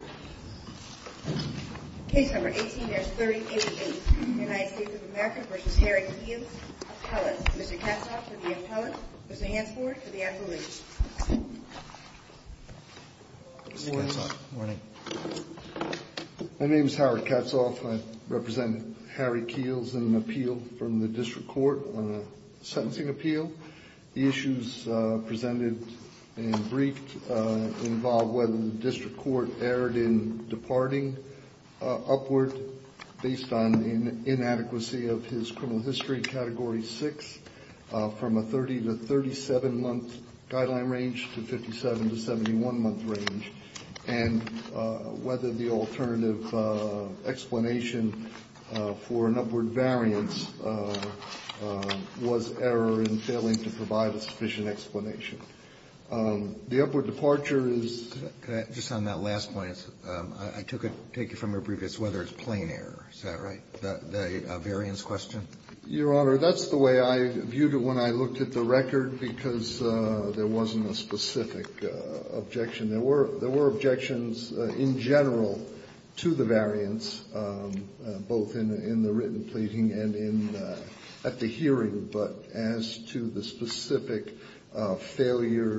My name is Howard Katzhoff. I represent Harry Keels in an appeal from the District Court on a sentencing appeal. The issues presented and briefed involve whether the District Court erred in departing upward based on inadequacy of his criminal history category 6 from a 30 to 37 month guideline range to 57 to 71 month range, and whether the alternative explanation for an upward variance was error in failing to provide a sufficient explanation. The upward departure is Roberts. Can I just on that last point? I took it, take it from your previous, whether it's plain error. Is that right? The variance question? Your Honor, that's the way I viewed it when I looked at the record, because there wasn't a specific objection. There were objections in general to the variance, both in the written pleading and in the hearing. But as to the specific failure,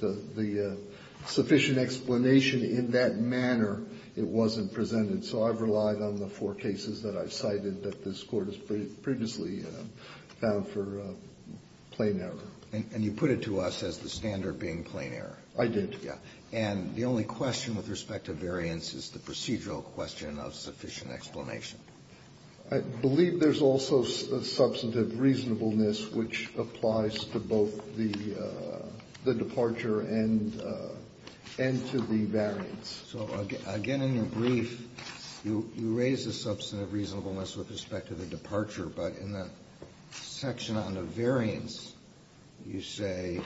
the sufficient explanation in that manner, it wasn't presented. So I've relied on the four cases that I've cited that this Court has previously found for plain error. And you put it to us as the standard being plain error. I did. Yeah. And the only question with respect to variance is the procedural question of sufficient explanation. I believe there's also substantive reasonableness, which applies to both the departure and to the variance. So again, in your brief, you raise the substantive reasonableness with respect to the departure. But in the section on the variance, you say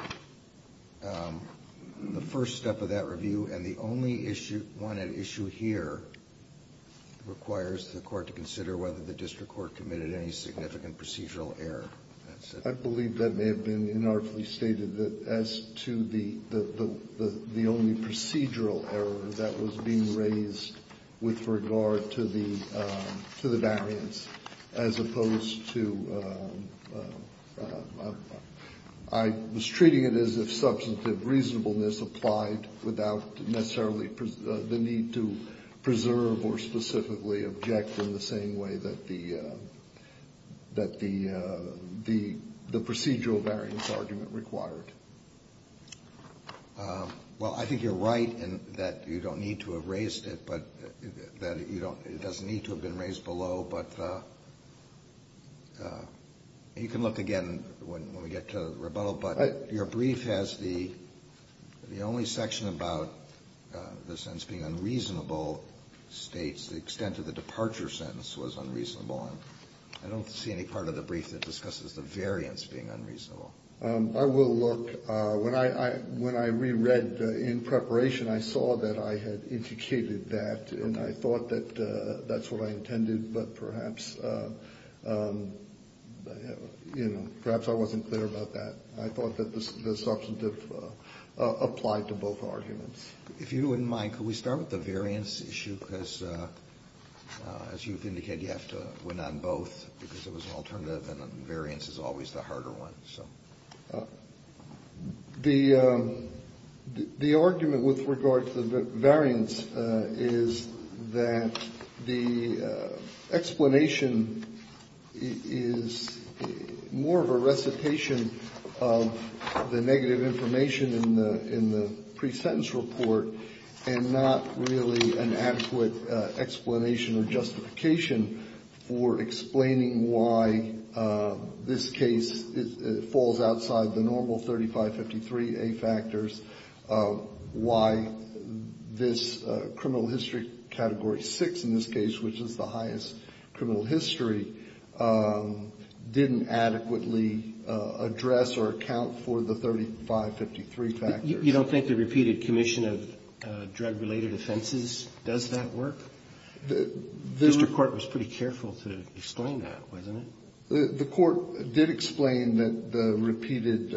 the first step of that review, and the only issue, one at issue here, requires the Court to consider whether the district court committed any significant procedural error. I believe that may have been inartfully stated that as to the only procedural error that was being raised with regard to the variance, as opposed to I was treating it as if substantive reasonableness applied without necessarily the need to preserve or specifically object in the same way that the procedural variance argument required. Well, I think you're right in that you don't need to have raised it, but that it doesn't need to have been raised below. But you can look again when we get to rebuttal. But your brief has the only section about the sentence being unreasonable states the extent of the departure sentence was unreasonable. And I don't see any part of the brief that discusses the variance being unreasonable. I will look. When I reread in preparation, I saw that I had indicated that, and I thought that that's what I intended. But perhaps, you know, perhaps I wasn't clear about that. I thought that the substantive applied to both arguments. If you wouldn't mind, could we start with the variance issue? Because as you've indicated, you have to win on both because it was an alternative and the variance is always the harder one. So the the argument with regard to the variance is that the explanation is more of a recitation of the negative information in the in the pre-sentence report and not really an adequate explanation or justification for explaining why this case falls outside the normal 3553A factors. Why this criminal history category 6 in this case, which is the highest criminal history, didn't adequately address or account for the 3553 factors. You don't think the repeated commission of drug-related offenses does that work? The district court was pretty careful to explain that, wasn't it? The court did explain that the repeated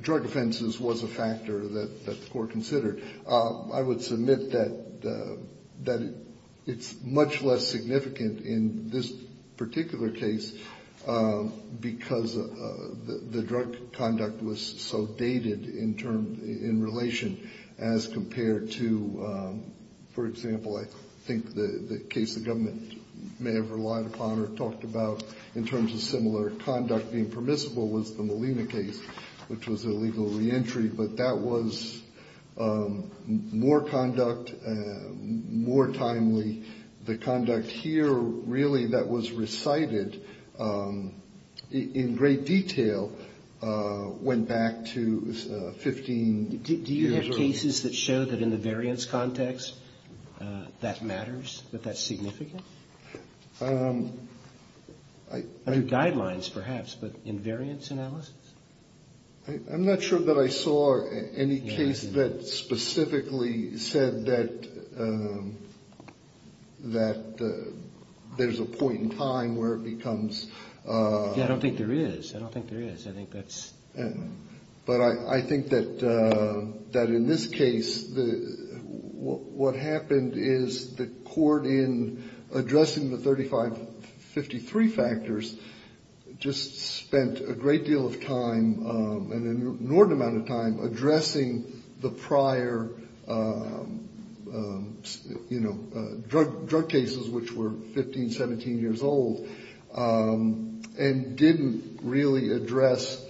drug offenses was a factor that the court considered. I would submit that it's much less significant in this particular case because the drug conduct was so dated in relation as compared to, for example, I think the case the government may have relied upon or talked about in terms of similar conduct being permissible was the Molina case, which was a legal reentry, but that was more conduct, more timely. The conduct here, really, that was recited in great detail went back to 15 years ago. Do you have cases that show that in the variance context that matters, that that's significant? Under guidelines, perhaps, but in variance analysis? I'm not sure that I saw any case that specifically said that there's a point in time where it becomes. I don't think there is. I don't think there is. I think that's. But I think that in this case, what happened is the court in addressing the 3553 factors just spent a great deal of time and an inordinate amount of time addressing the prior drug cases, which were 15, 17 years old, and didn't really address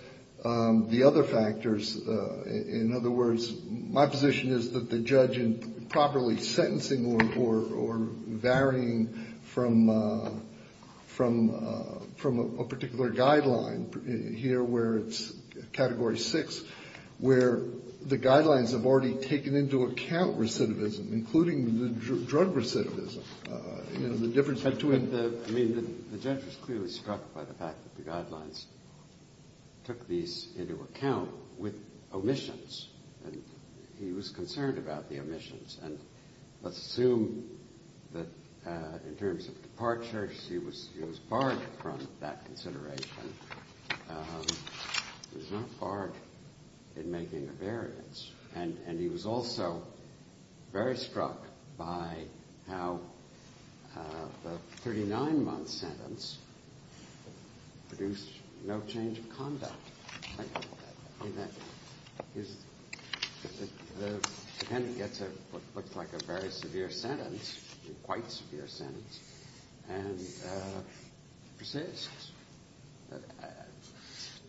the other factors. In other words, my position is that the judge in properly sentencing or varying from a particular guideline here where it's Category 6, where the guidelines have already taken into account recidivism, including the drug recidivism and the difference between. I mean, the judge was clearly struck by the fact that the guidelines took these into account with omissions. And let's assume that in terms of departures, he was barred from that consideration. He was not barred in making a variance. And he was also very struck by how the 39-month sentence produced no change of conduct. The defendant gets what looks like a very severe sentence, a quite severe sentence, and persists.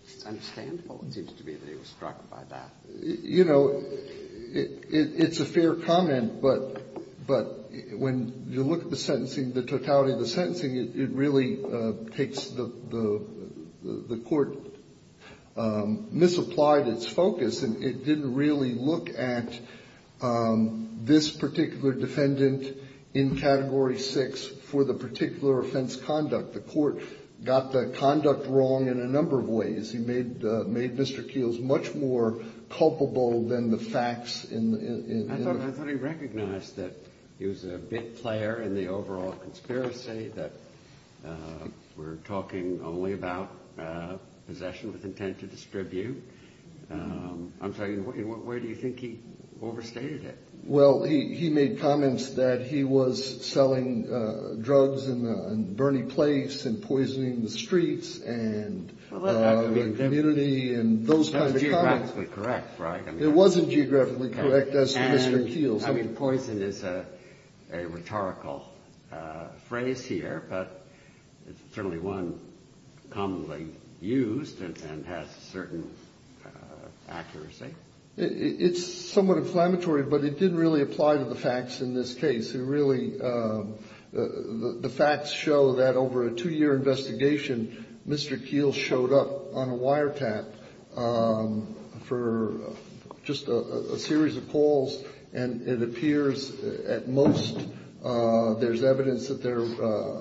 It's understandable, it seems to me, that he was struck by that. You know, it's a fair comment, but when you look at the sentencing, the totality of the sentencing, it really takes the court misapplied its focus, and it didn't really look at this particular defendant in Category 6 for the particular offense conduct. The court got the conduct wrong in a number of ways. He made Mr. Keeles much more culpable than the facts in the- We're talking only about possession with intent to distribute. I'm sorry, where do you think he overstated it? Well, he made comments that he was selling drugs in a burning place and poisoning the streets and the community and those kinds of comments. That's geographically correct, right? It wasn't geographically correct, that's Mr. Keeles. I mean, poison is a rhetorical phrase here, but it's certainly one commonly used and has certain accuracy. It's somewhat inflammatory, but it didn't really apply to the facts in this case. It really, the facts show that over a two-year investigation, Mr. Keeles showed up on a wiretap for just a series of calls, and it appears at most there's evidence that there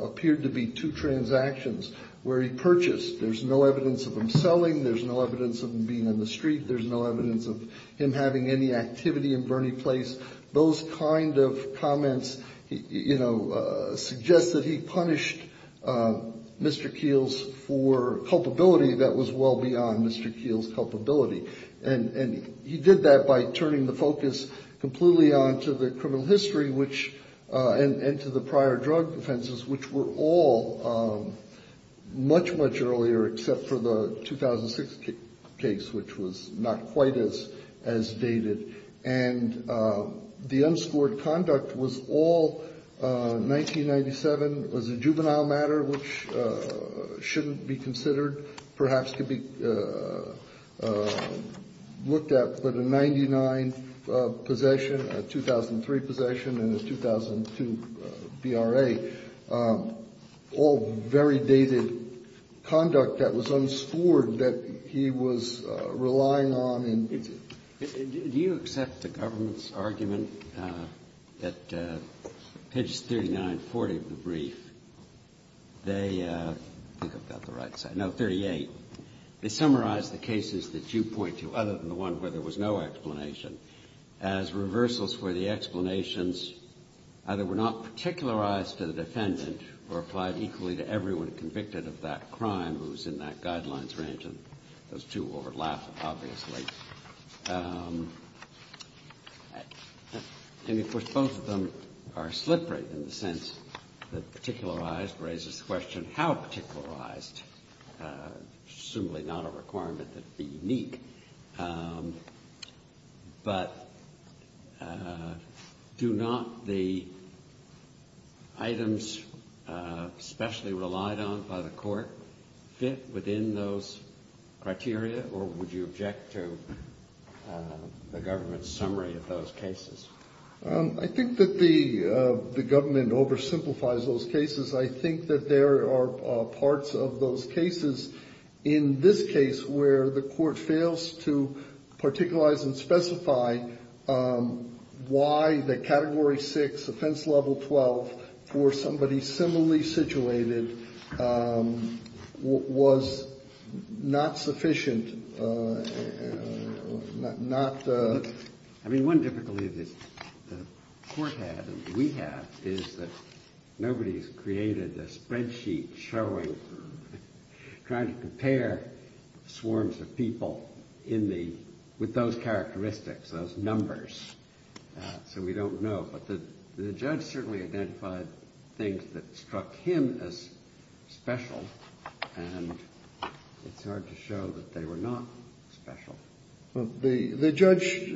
appeared to be two transactions where he purchased. There's no evidence of him selling, there's no evidence of him being in the street, there's no evidence of him having any activity in a burning place. Those kind of comments suggest that he punished Mr. Keeles for culpability that was well beyond Mr. Keeles' culpability. And he did that by turning the focus completely on to the criminal history, which, and to the prior drug offenses, which were all much, much earlier, except for the 2006 case, which was not quite as dated. And the unscored conduct was all 1997, was a juvenile matter, which shouldn't be considered. Perhaps could be looked at, but a 99 possession, a 2003 possession, and a 2002 BRA, all very dated conduct that was unscored that he was relying on. And do you accept the government's argument that page 3940 of the brief, they, I think I've got the right side. No, 38, they summarize the cases that you point to, other than the one where there was no explanation, as reversals where the explanations either were not particularized to the defendant or applied equally to everyone convicted of that crime who was in that guidelines range, and those two overlap, obviously. And, of course, both of them are slippery in the sense that particularized raises the question, how particularized? Presumably not a requirement that be unique, but do not the items specially relied on by the court fit within those criteria, or would you object to the government's summary of those cases? I think that the government oversimplifies those cases. I think that there are parts of those cases in this case where the court fails to particularize and specify why the Category 6 offense level 12 for somebody similarly situated was not sufficient, not the. I mean, one difficulty that the court had and we have is that nobody's created a spreadsheet showing, trying to compare swarms of people in the, with those characteristics, those numbers. So we don't know. But the judge certainly identified things that struck him as special, and it's hard to show that they were not special. The judge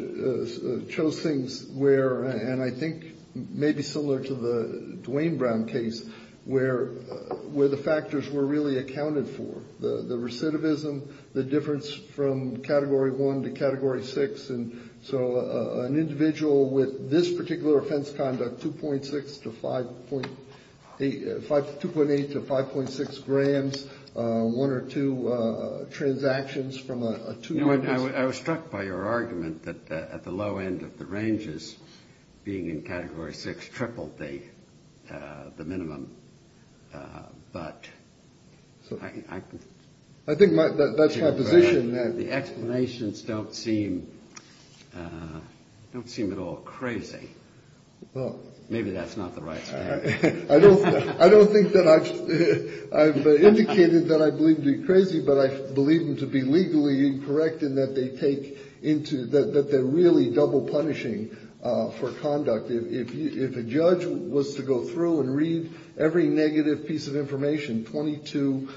chose things where, and I think maybe similar to the Duane Brown case, where the factors were really accounted for. The recidivism, the difference from Category 1 to Category 6. And so an individual with this particular offense conduct, 2.6 to 5.8, 2.8 to 5.6 grams, one or two transactions from a two-year-old. I was struck by your argument that at the low end of the ranges, being in Category 6, tripled the minimum. But I think that's my position. The explanations don't seem, don't seem at all crazy. Maybe that's not the right statement. I don't think that I've indicated that I believe to be crazy, but I believe them to be legally incorrect in that they take into, that they're really double punishing for conduct. If a judge was to go through and read every negative piece of information, 22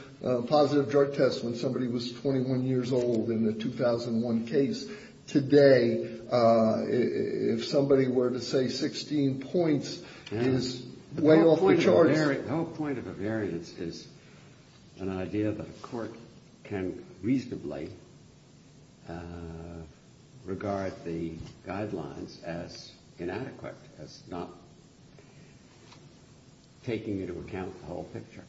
positive drug tests when somebody was 21 years old in the 2001 case, today, if somebody were to say 16 points is way off the charts. The whole point of a variance is an idea that a court can reasonably regard the guidelines as inadequate, as not taking into account the whole picture.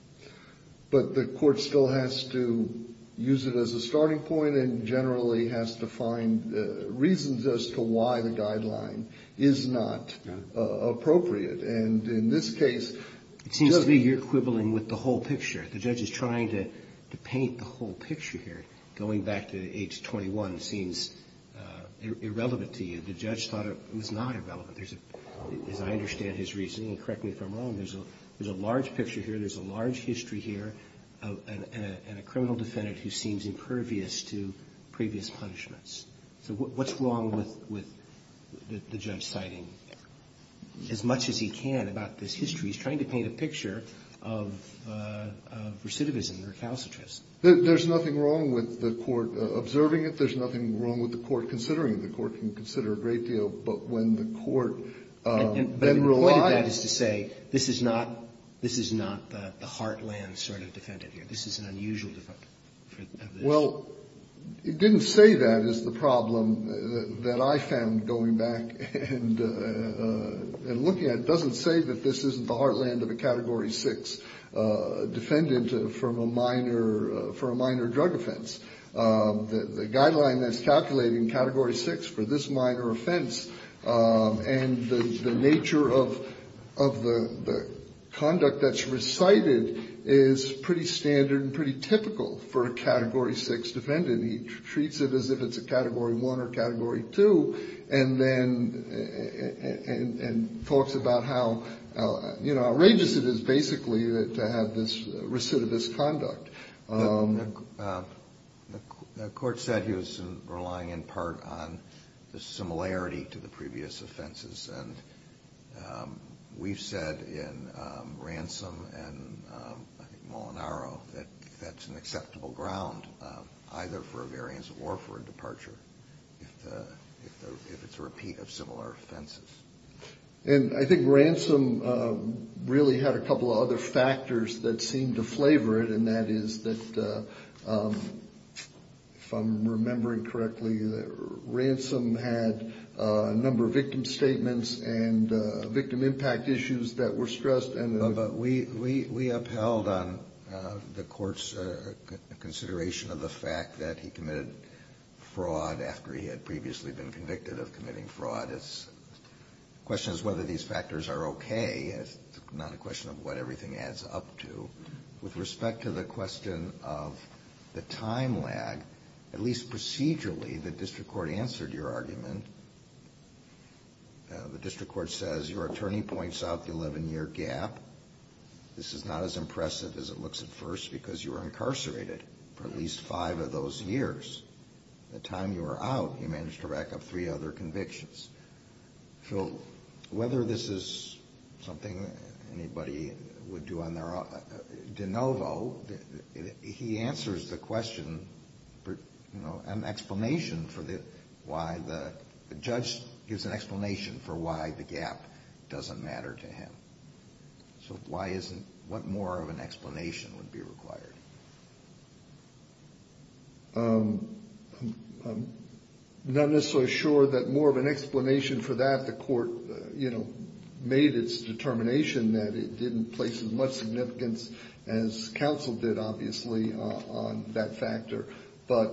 But the court still has to use it as a starting point and generally has to find reasons as to why the guideline is not appropriate. And in this case, it seems to me you're quibbling with the whole picture. The judge is trying to paint the whole picture here. Going back to age 21 seems irrelevant to you. The judge thought it was not irrelevant. There's a, as I understand his reasoning, and correct me if I'm wrong, there's a large picture here. There's a large history here and a criminal defendant who seems impervious to previous punishments. So what's wrong with the judge's citing? As much as he can about this history, he's trying to paint a picture of recidivism, recalcitrance. There's nothing wrong with the court observing it. There's nothing wrong with the court considering the court can consider a great deal. But when the court relies to say this is not, this is not the heartland sort of defendant here. This is an unusual. Well, it didn't say that is the problem that I found going back and looking at it doesn't say that this isn't the heartland of a Category 6 defendant from a minor for a minor drug offense. The guideline that's calculated in Category 6 for this minor offense and the nature of the conduct that's recited is pretty standard and pretty typical for a Category 6 defendant. He treats it as if it's a Category 1 or Category 2 and then and talks about how outrageous it is basically to have this recidivist conduct. The court said he was relying in part on the similarity to the previous offenses. And we've said in Ransom and I think Molinaro that that's an acceptable ground either for a variance or for a departure if it's a repeat of similar offenses. And I think Ransom really had a couple of other factors that seemed to flavor it. And that is that from remembering correctly that Ransom had a number of victim statements and victim impact issues that were stressed. And we upheld on the court's consideration of the fact that he committed fraud after he had previously been convicted of committing fraud. The question is whether these factors are okay. It's not a question of what everything adds up to. With respect to the question of the time lag, at least procedurally, the district court answered your argument. The district court says your attorney points out the 11 year gap. This is not as impressive as it looks at first because you were incarcerated for at least five of those years. The time you were out, you managed to rack up three other convictions. So whether this is something anybody would do on their own, DeNovo, he answers the question, you know, an explanation for why the judge gives an explanation for why the gap doesn't matter to him. So why isn't, what more of an explanation would be required? I'm not necessarily sure that more of an explanation for that. The court made its determination that it didn't place as much significance as counsel did, obviously, on that factor. But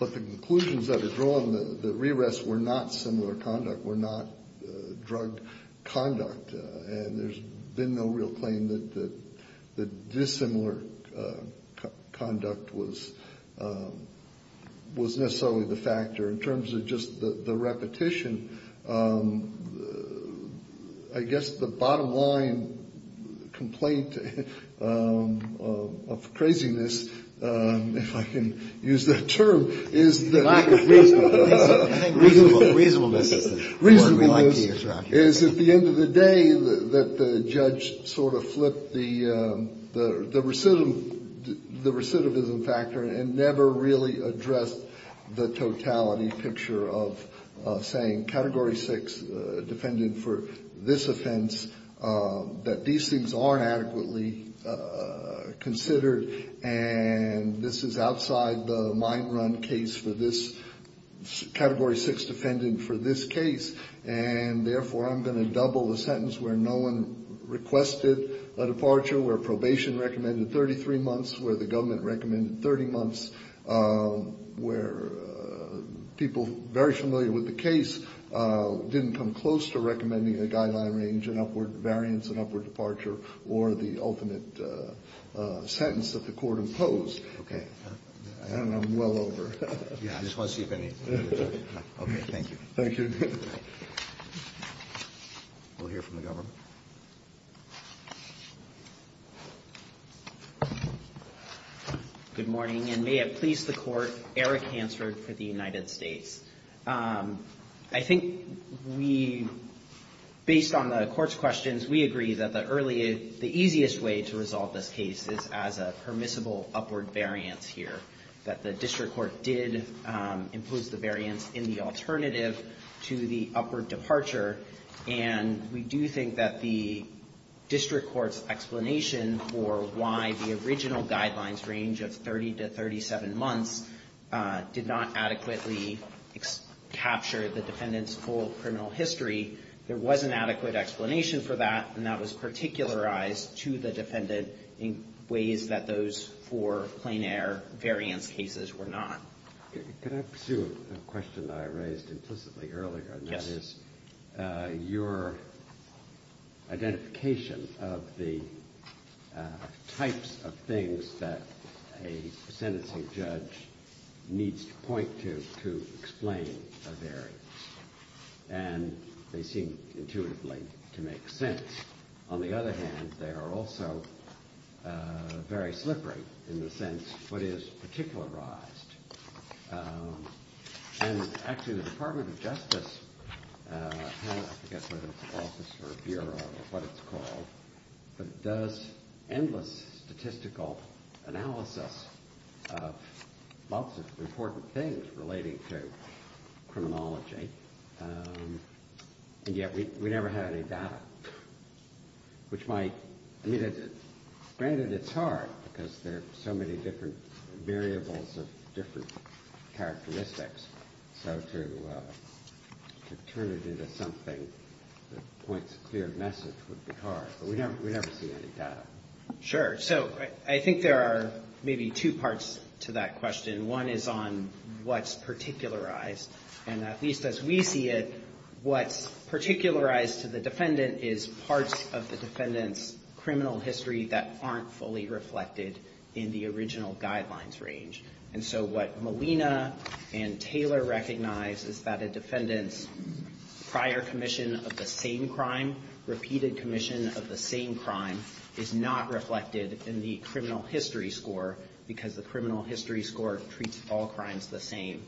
the conclusions that are drawn, the re-arrests were not similar conduct, were not drug conduct. And there's been no real claim that dissimilar conduct was necessarily the factor. In terms of just the repetition, I guess the bottom line complaint of craziness, if I can use that term, is that- I think reasonableness is the word we like to use around here. Is at the end of the day that the judge sort of flipped the recidivism factor and never really addressed the totality picture of saying category six defendant for this offense, that these things aren't adequately considered. And this is outside the mind run case for this category six defendant for this case. And therefore, I'm going to double the sentence where no one requested a departure, where probation recommended 33 months, where the government recommended 30 months. Where people very familiar with the case didn't come close to recommending a guideline range, an upward variance, an upward departure, or the ultimate sentence that the court imposed. Okay. And I'm well over. Yeah, I just want to see if any, okay, thank you. We'll hear from the government. Good morning, and may it please the court, Eric Hansford for the United States. I think we, based on the court's questions, we agree that the earliest, the easiest way to resolve this case is as a permissible upward variance here. That the district court did impose the variance in the alternative to the upward departure. And we do think that the district court's explanation for why the original guidelines range of 30 to 37 months did not adequately capture the defendant's full criminal history. There was an adequate explanation for that, and that was particularized to the defendant in ways that those for plain air variance cases were not. Can I pursue a question that I raised implicitly earlier, and that is your identification of the types of things that a sentencing judge needs to point to to explain a variance. And they seem intuitively to make sense. On the other hand, they are also very slippery, in the sense, what is particularized. And actually, the Department of Justice has, I forget whether it's an office or a bureau or what it's called, but does endless statistical analysis of lots of important things relating to criminology. And yet, we never had any data. Which might, I mean, granted it's hard because there are so many different variables of different characteristics. So to turn it into something that points to a clear message would be hard. But we never see any data. Sure, so I think there are maybe two parts to that question. One is on what's particularized. And at least as we see it, what's particularized to the defendant is parts of the defendant's criminal history that aren't fully reflected in the original guidelines range. And so what Molina and Taylor recognize is that a defendant's prior commission of the same crime, repeated commission of the same crime, is not reflected in the criminal history score. Because the criminal history score treats all crimes the same.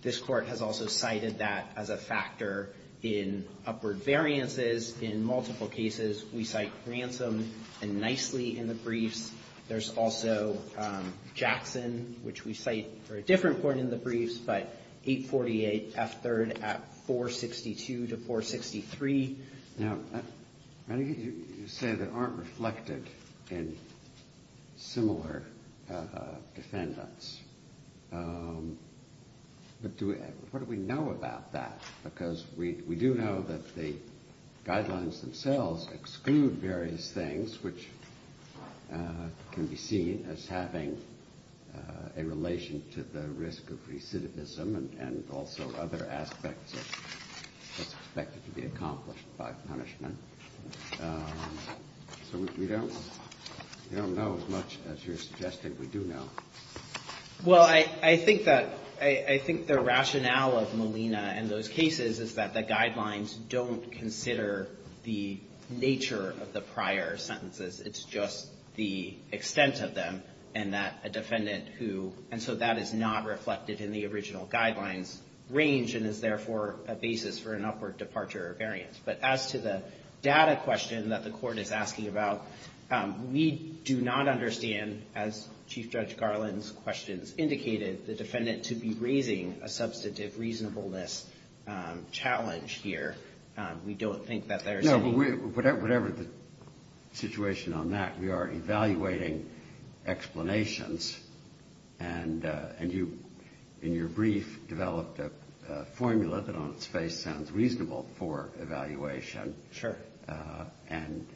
This court has also cited that as a factor in upward variances. In multiple cases, we cite ransom and nicely in the briefs. There's also Jackson, which we cite for a different court in the briefs. But 848 F3rd at 462 to 463. Now, I think you say they aren't reflected in similar defendants. But what do we know about that? Because we do know that the guidelines themselves exclude various things, which can be seen as having a relation to the risk of recidivism and also other aspects of what's expected to be accomplished by punishment. So we don't know as much as you're suggesting we do know. Well, I think that, I think the rationale of Molina and those cases is that the guidelines don't consider the nature of the prior sentences. It's just the extent of them and that a defendant who, and so that is not reflected in the original guidelines range and is therefore a basis for an upward departure of variance. But as to the data question that the court is asking about, we do not understand, as Chief Judge Garland's questions indicated, the defendant to be raising a substantive reasonableness challenge here. We don't think that there's- No, but whatever the situation on that, we are evaluating explanations. And you, in your brief, developed a formula that on its face sounds reasonable for evaluation. Sure. And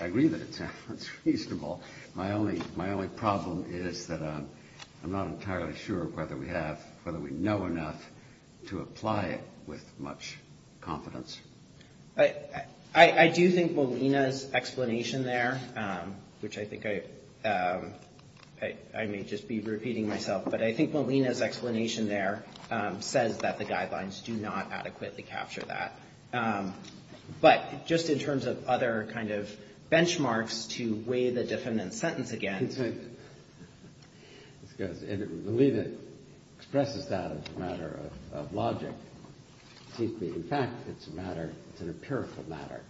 I agree that it sounds reasonable. My only problem is that I'm not entirely sure whether we have, whether we know enough to apply it with much confidence. I do think Molina's explanation there, which I think I may just be repeating myself. But I think Molina's explanation there says that the guidelines do not adequately capture that. But just in terms of other kind of benchmarks to weigh the defendant's sentence again. I believe it expresses that as a matter of logic. It seems to me, in fact, it's a matter, it's an empirical matter.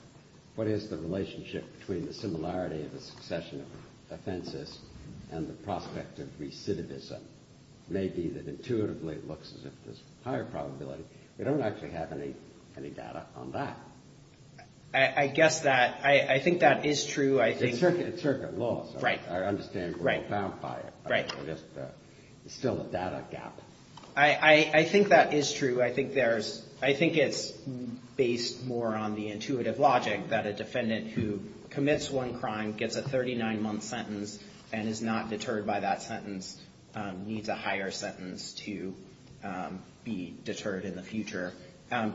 What is the relationship between the similarity of the succession of offenses and the prospect of recidivism? Maybe that intuitively it looks as if there's higher probability. We don't actually have any data on that. I guess that, I think that is true. I think- It's circuit laws. Right. I understand we're bound by it. Right. It's still a data gap. I think that is true. I think it's based more on the intuitive logic that a defendant who commits one crime, gets a 39-month sentence, and is not deterred by that sentence, needs a higher sentence to be deterred in the future.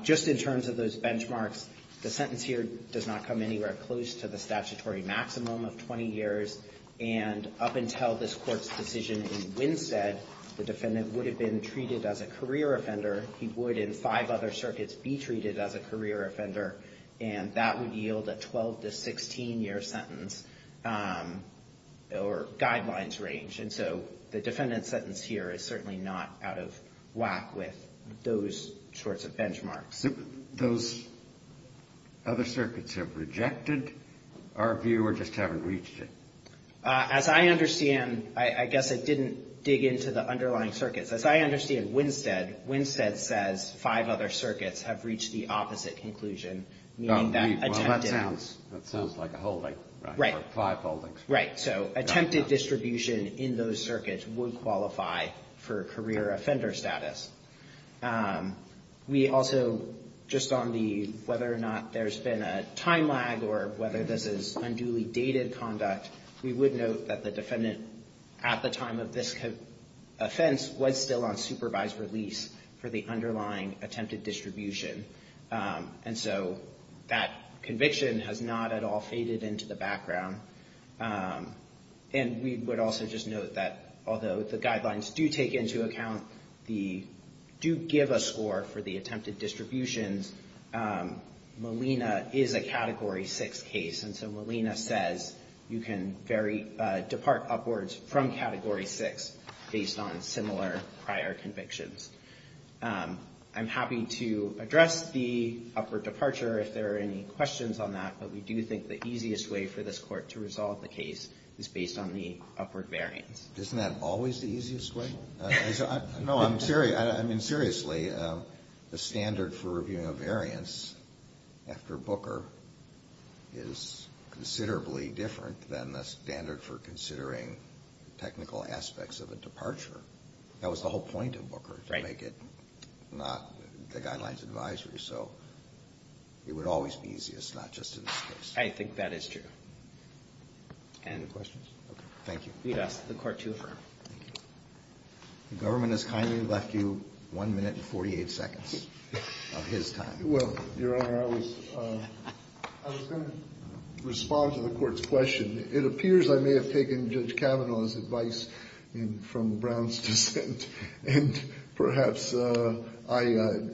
Just in terms of those benchmarks, the sentence here does not come anywhere close to the statutory maximum of 20 years. And up until this court's decision in Winstead, the defendant would have been treated as a career offender. He would, in five other circuits, be treated as a career offender. And that would yield a 12 to 16-year sentence, or guidelines range. And so the defendant's sentence here is certainly not out of whack with those sorts of benchmarks. Those other circuits have rejected, or if you just haven't reached it? As I understand, I guess I didn't dig into the underlying circuits. As I understand Winstead, Winstead says five other circuits have reached the opposite conclusion. Meaning that attempted- Well, that sounds like a holding. Right. Five holdings. Right. So attempted distribution in those circuits would qualify for career offender status. We also, just on the whether or not there's been a time lag, or whether this is unduly dated conduct, we would note that the defendant, at the time of this offense, was still on supervised release for the underlying attempted distribution. And so that conviction has not at all faded into the background. And we would also just note that, although the guidelines do take into account the, do give a score for the attempted distributions, Molina is a Category 6 case. And so Molina says you can depart upwards from Category 6 based on similar prior convictions. I'm happy to address the upward departure if there are any questions on that. But we do think the easiest way for this court to resolve the case is based on the upward variance. Isn't that always the easiest way? No, I'm serious. I mean, seriously, the standard for reviewing a variance after Booker is considerably different than the standard for considering technical aspects of a departure. That was the whole point of Booker, to make it not the guidelines advisory. So it would always be easiest, not just in this case. I think that is true. Any questions? Okay. Thank you. You'd ask the court to affirm. The government has kindly left you 1 minute and 48 seconds of his time. Well, Your Honor, I was going to respond to the court's question. It appears I may have taken Judge Kavanaugh's advice from Brown's dissent. And perhaps I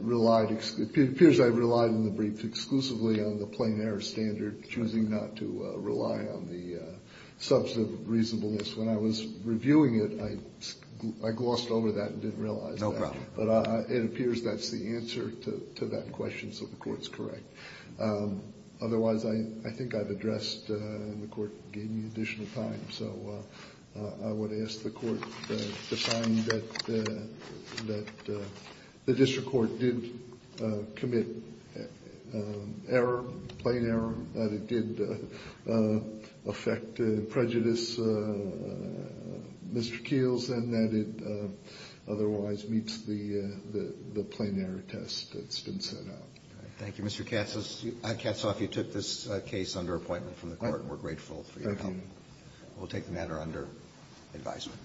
relied, it appears I relied in the brief exclusively on the plain error standard, choosing not to rely on the substantive reasonableness. When I was reviewing it, I glossed over that and didn't realize that. No problem. But it appears that's the answer to that question, so the court's correct. Otherwise, I think I've addressed, and the court gave me additional time. So I would ask the court to find that the district court did commit error, plain error. That it did affect prejudice, Mr. Keels, and that it otherwise meets the plain error test that's been set out. Thank you, Mr. Katsoff. You took this case under appointment from the court, and we're grateful for your help. We'll take the matter under advisement.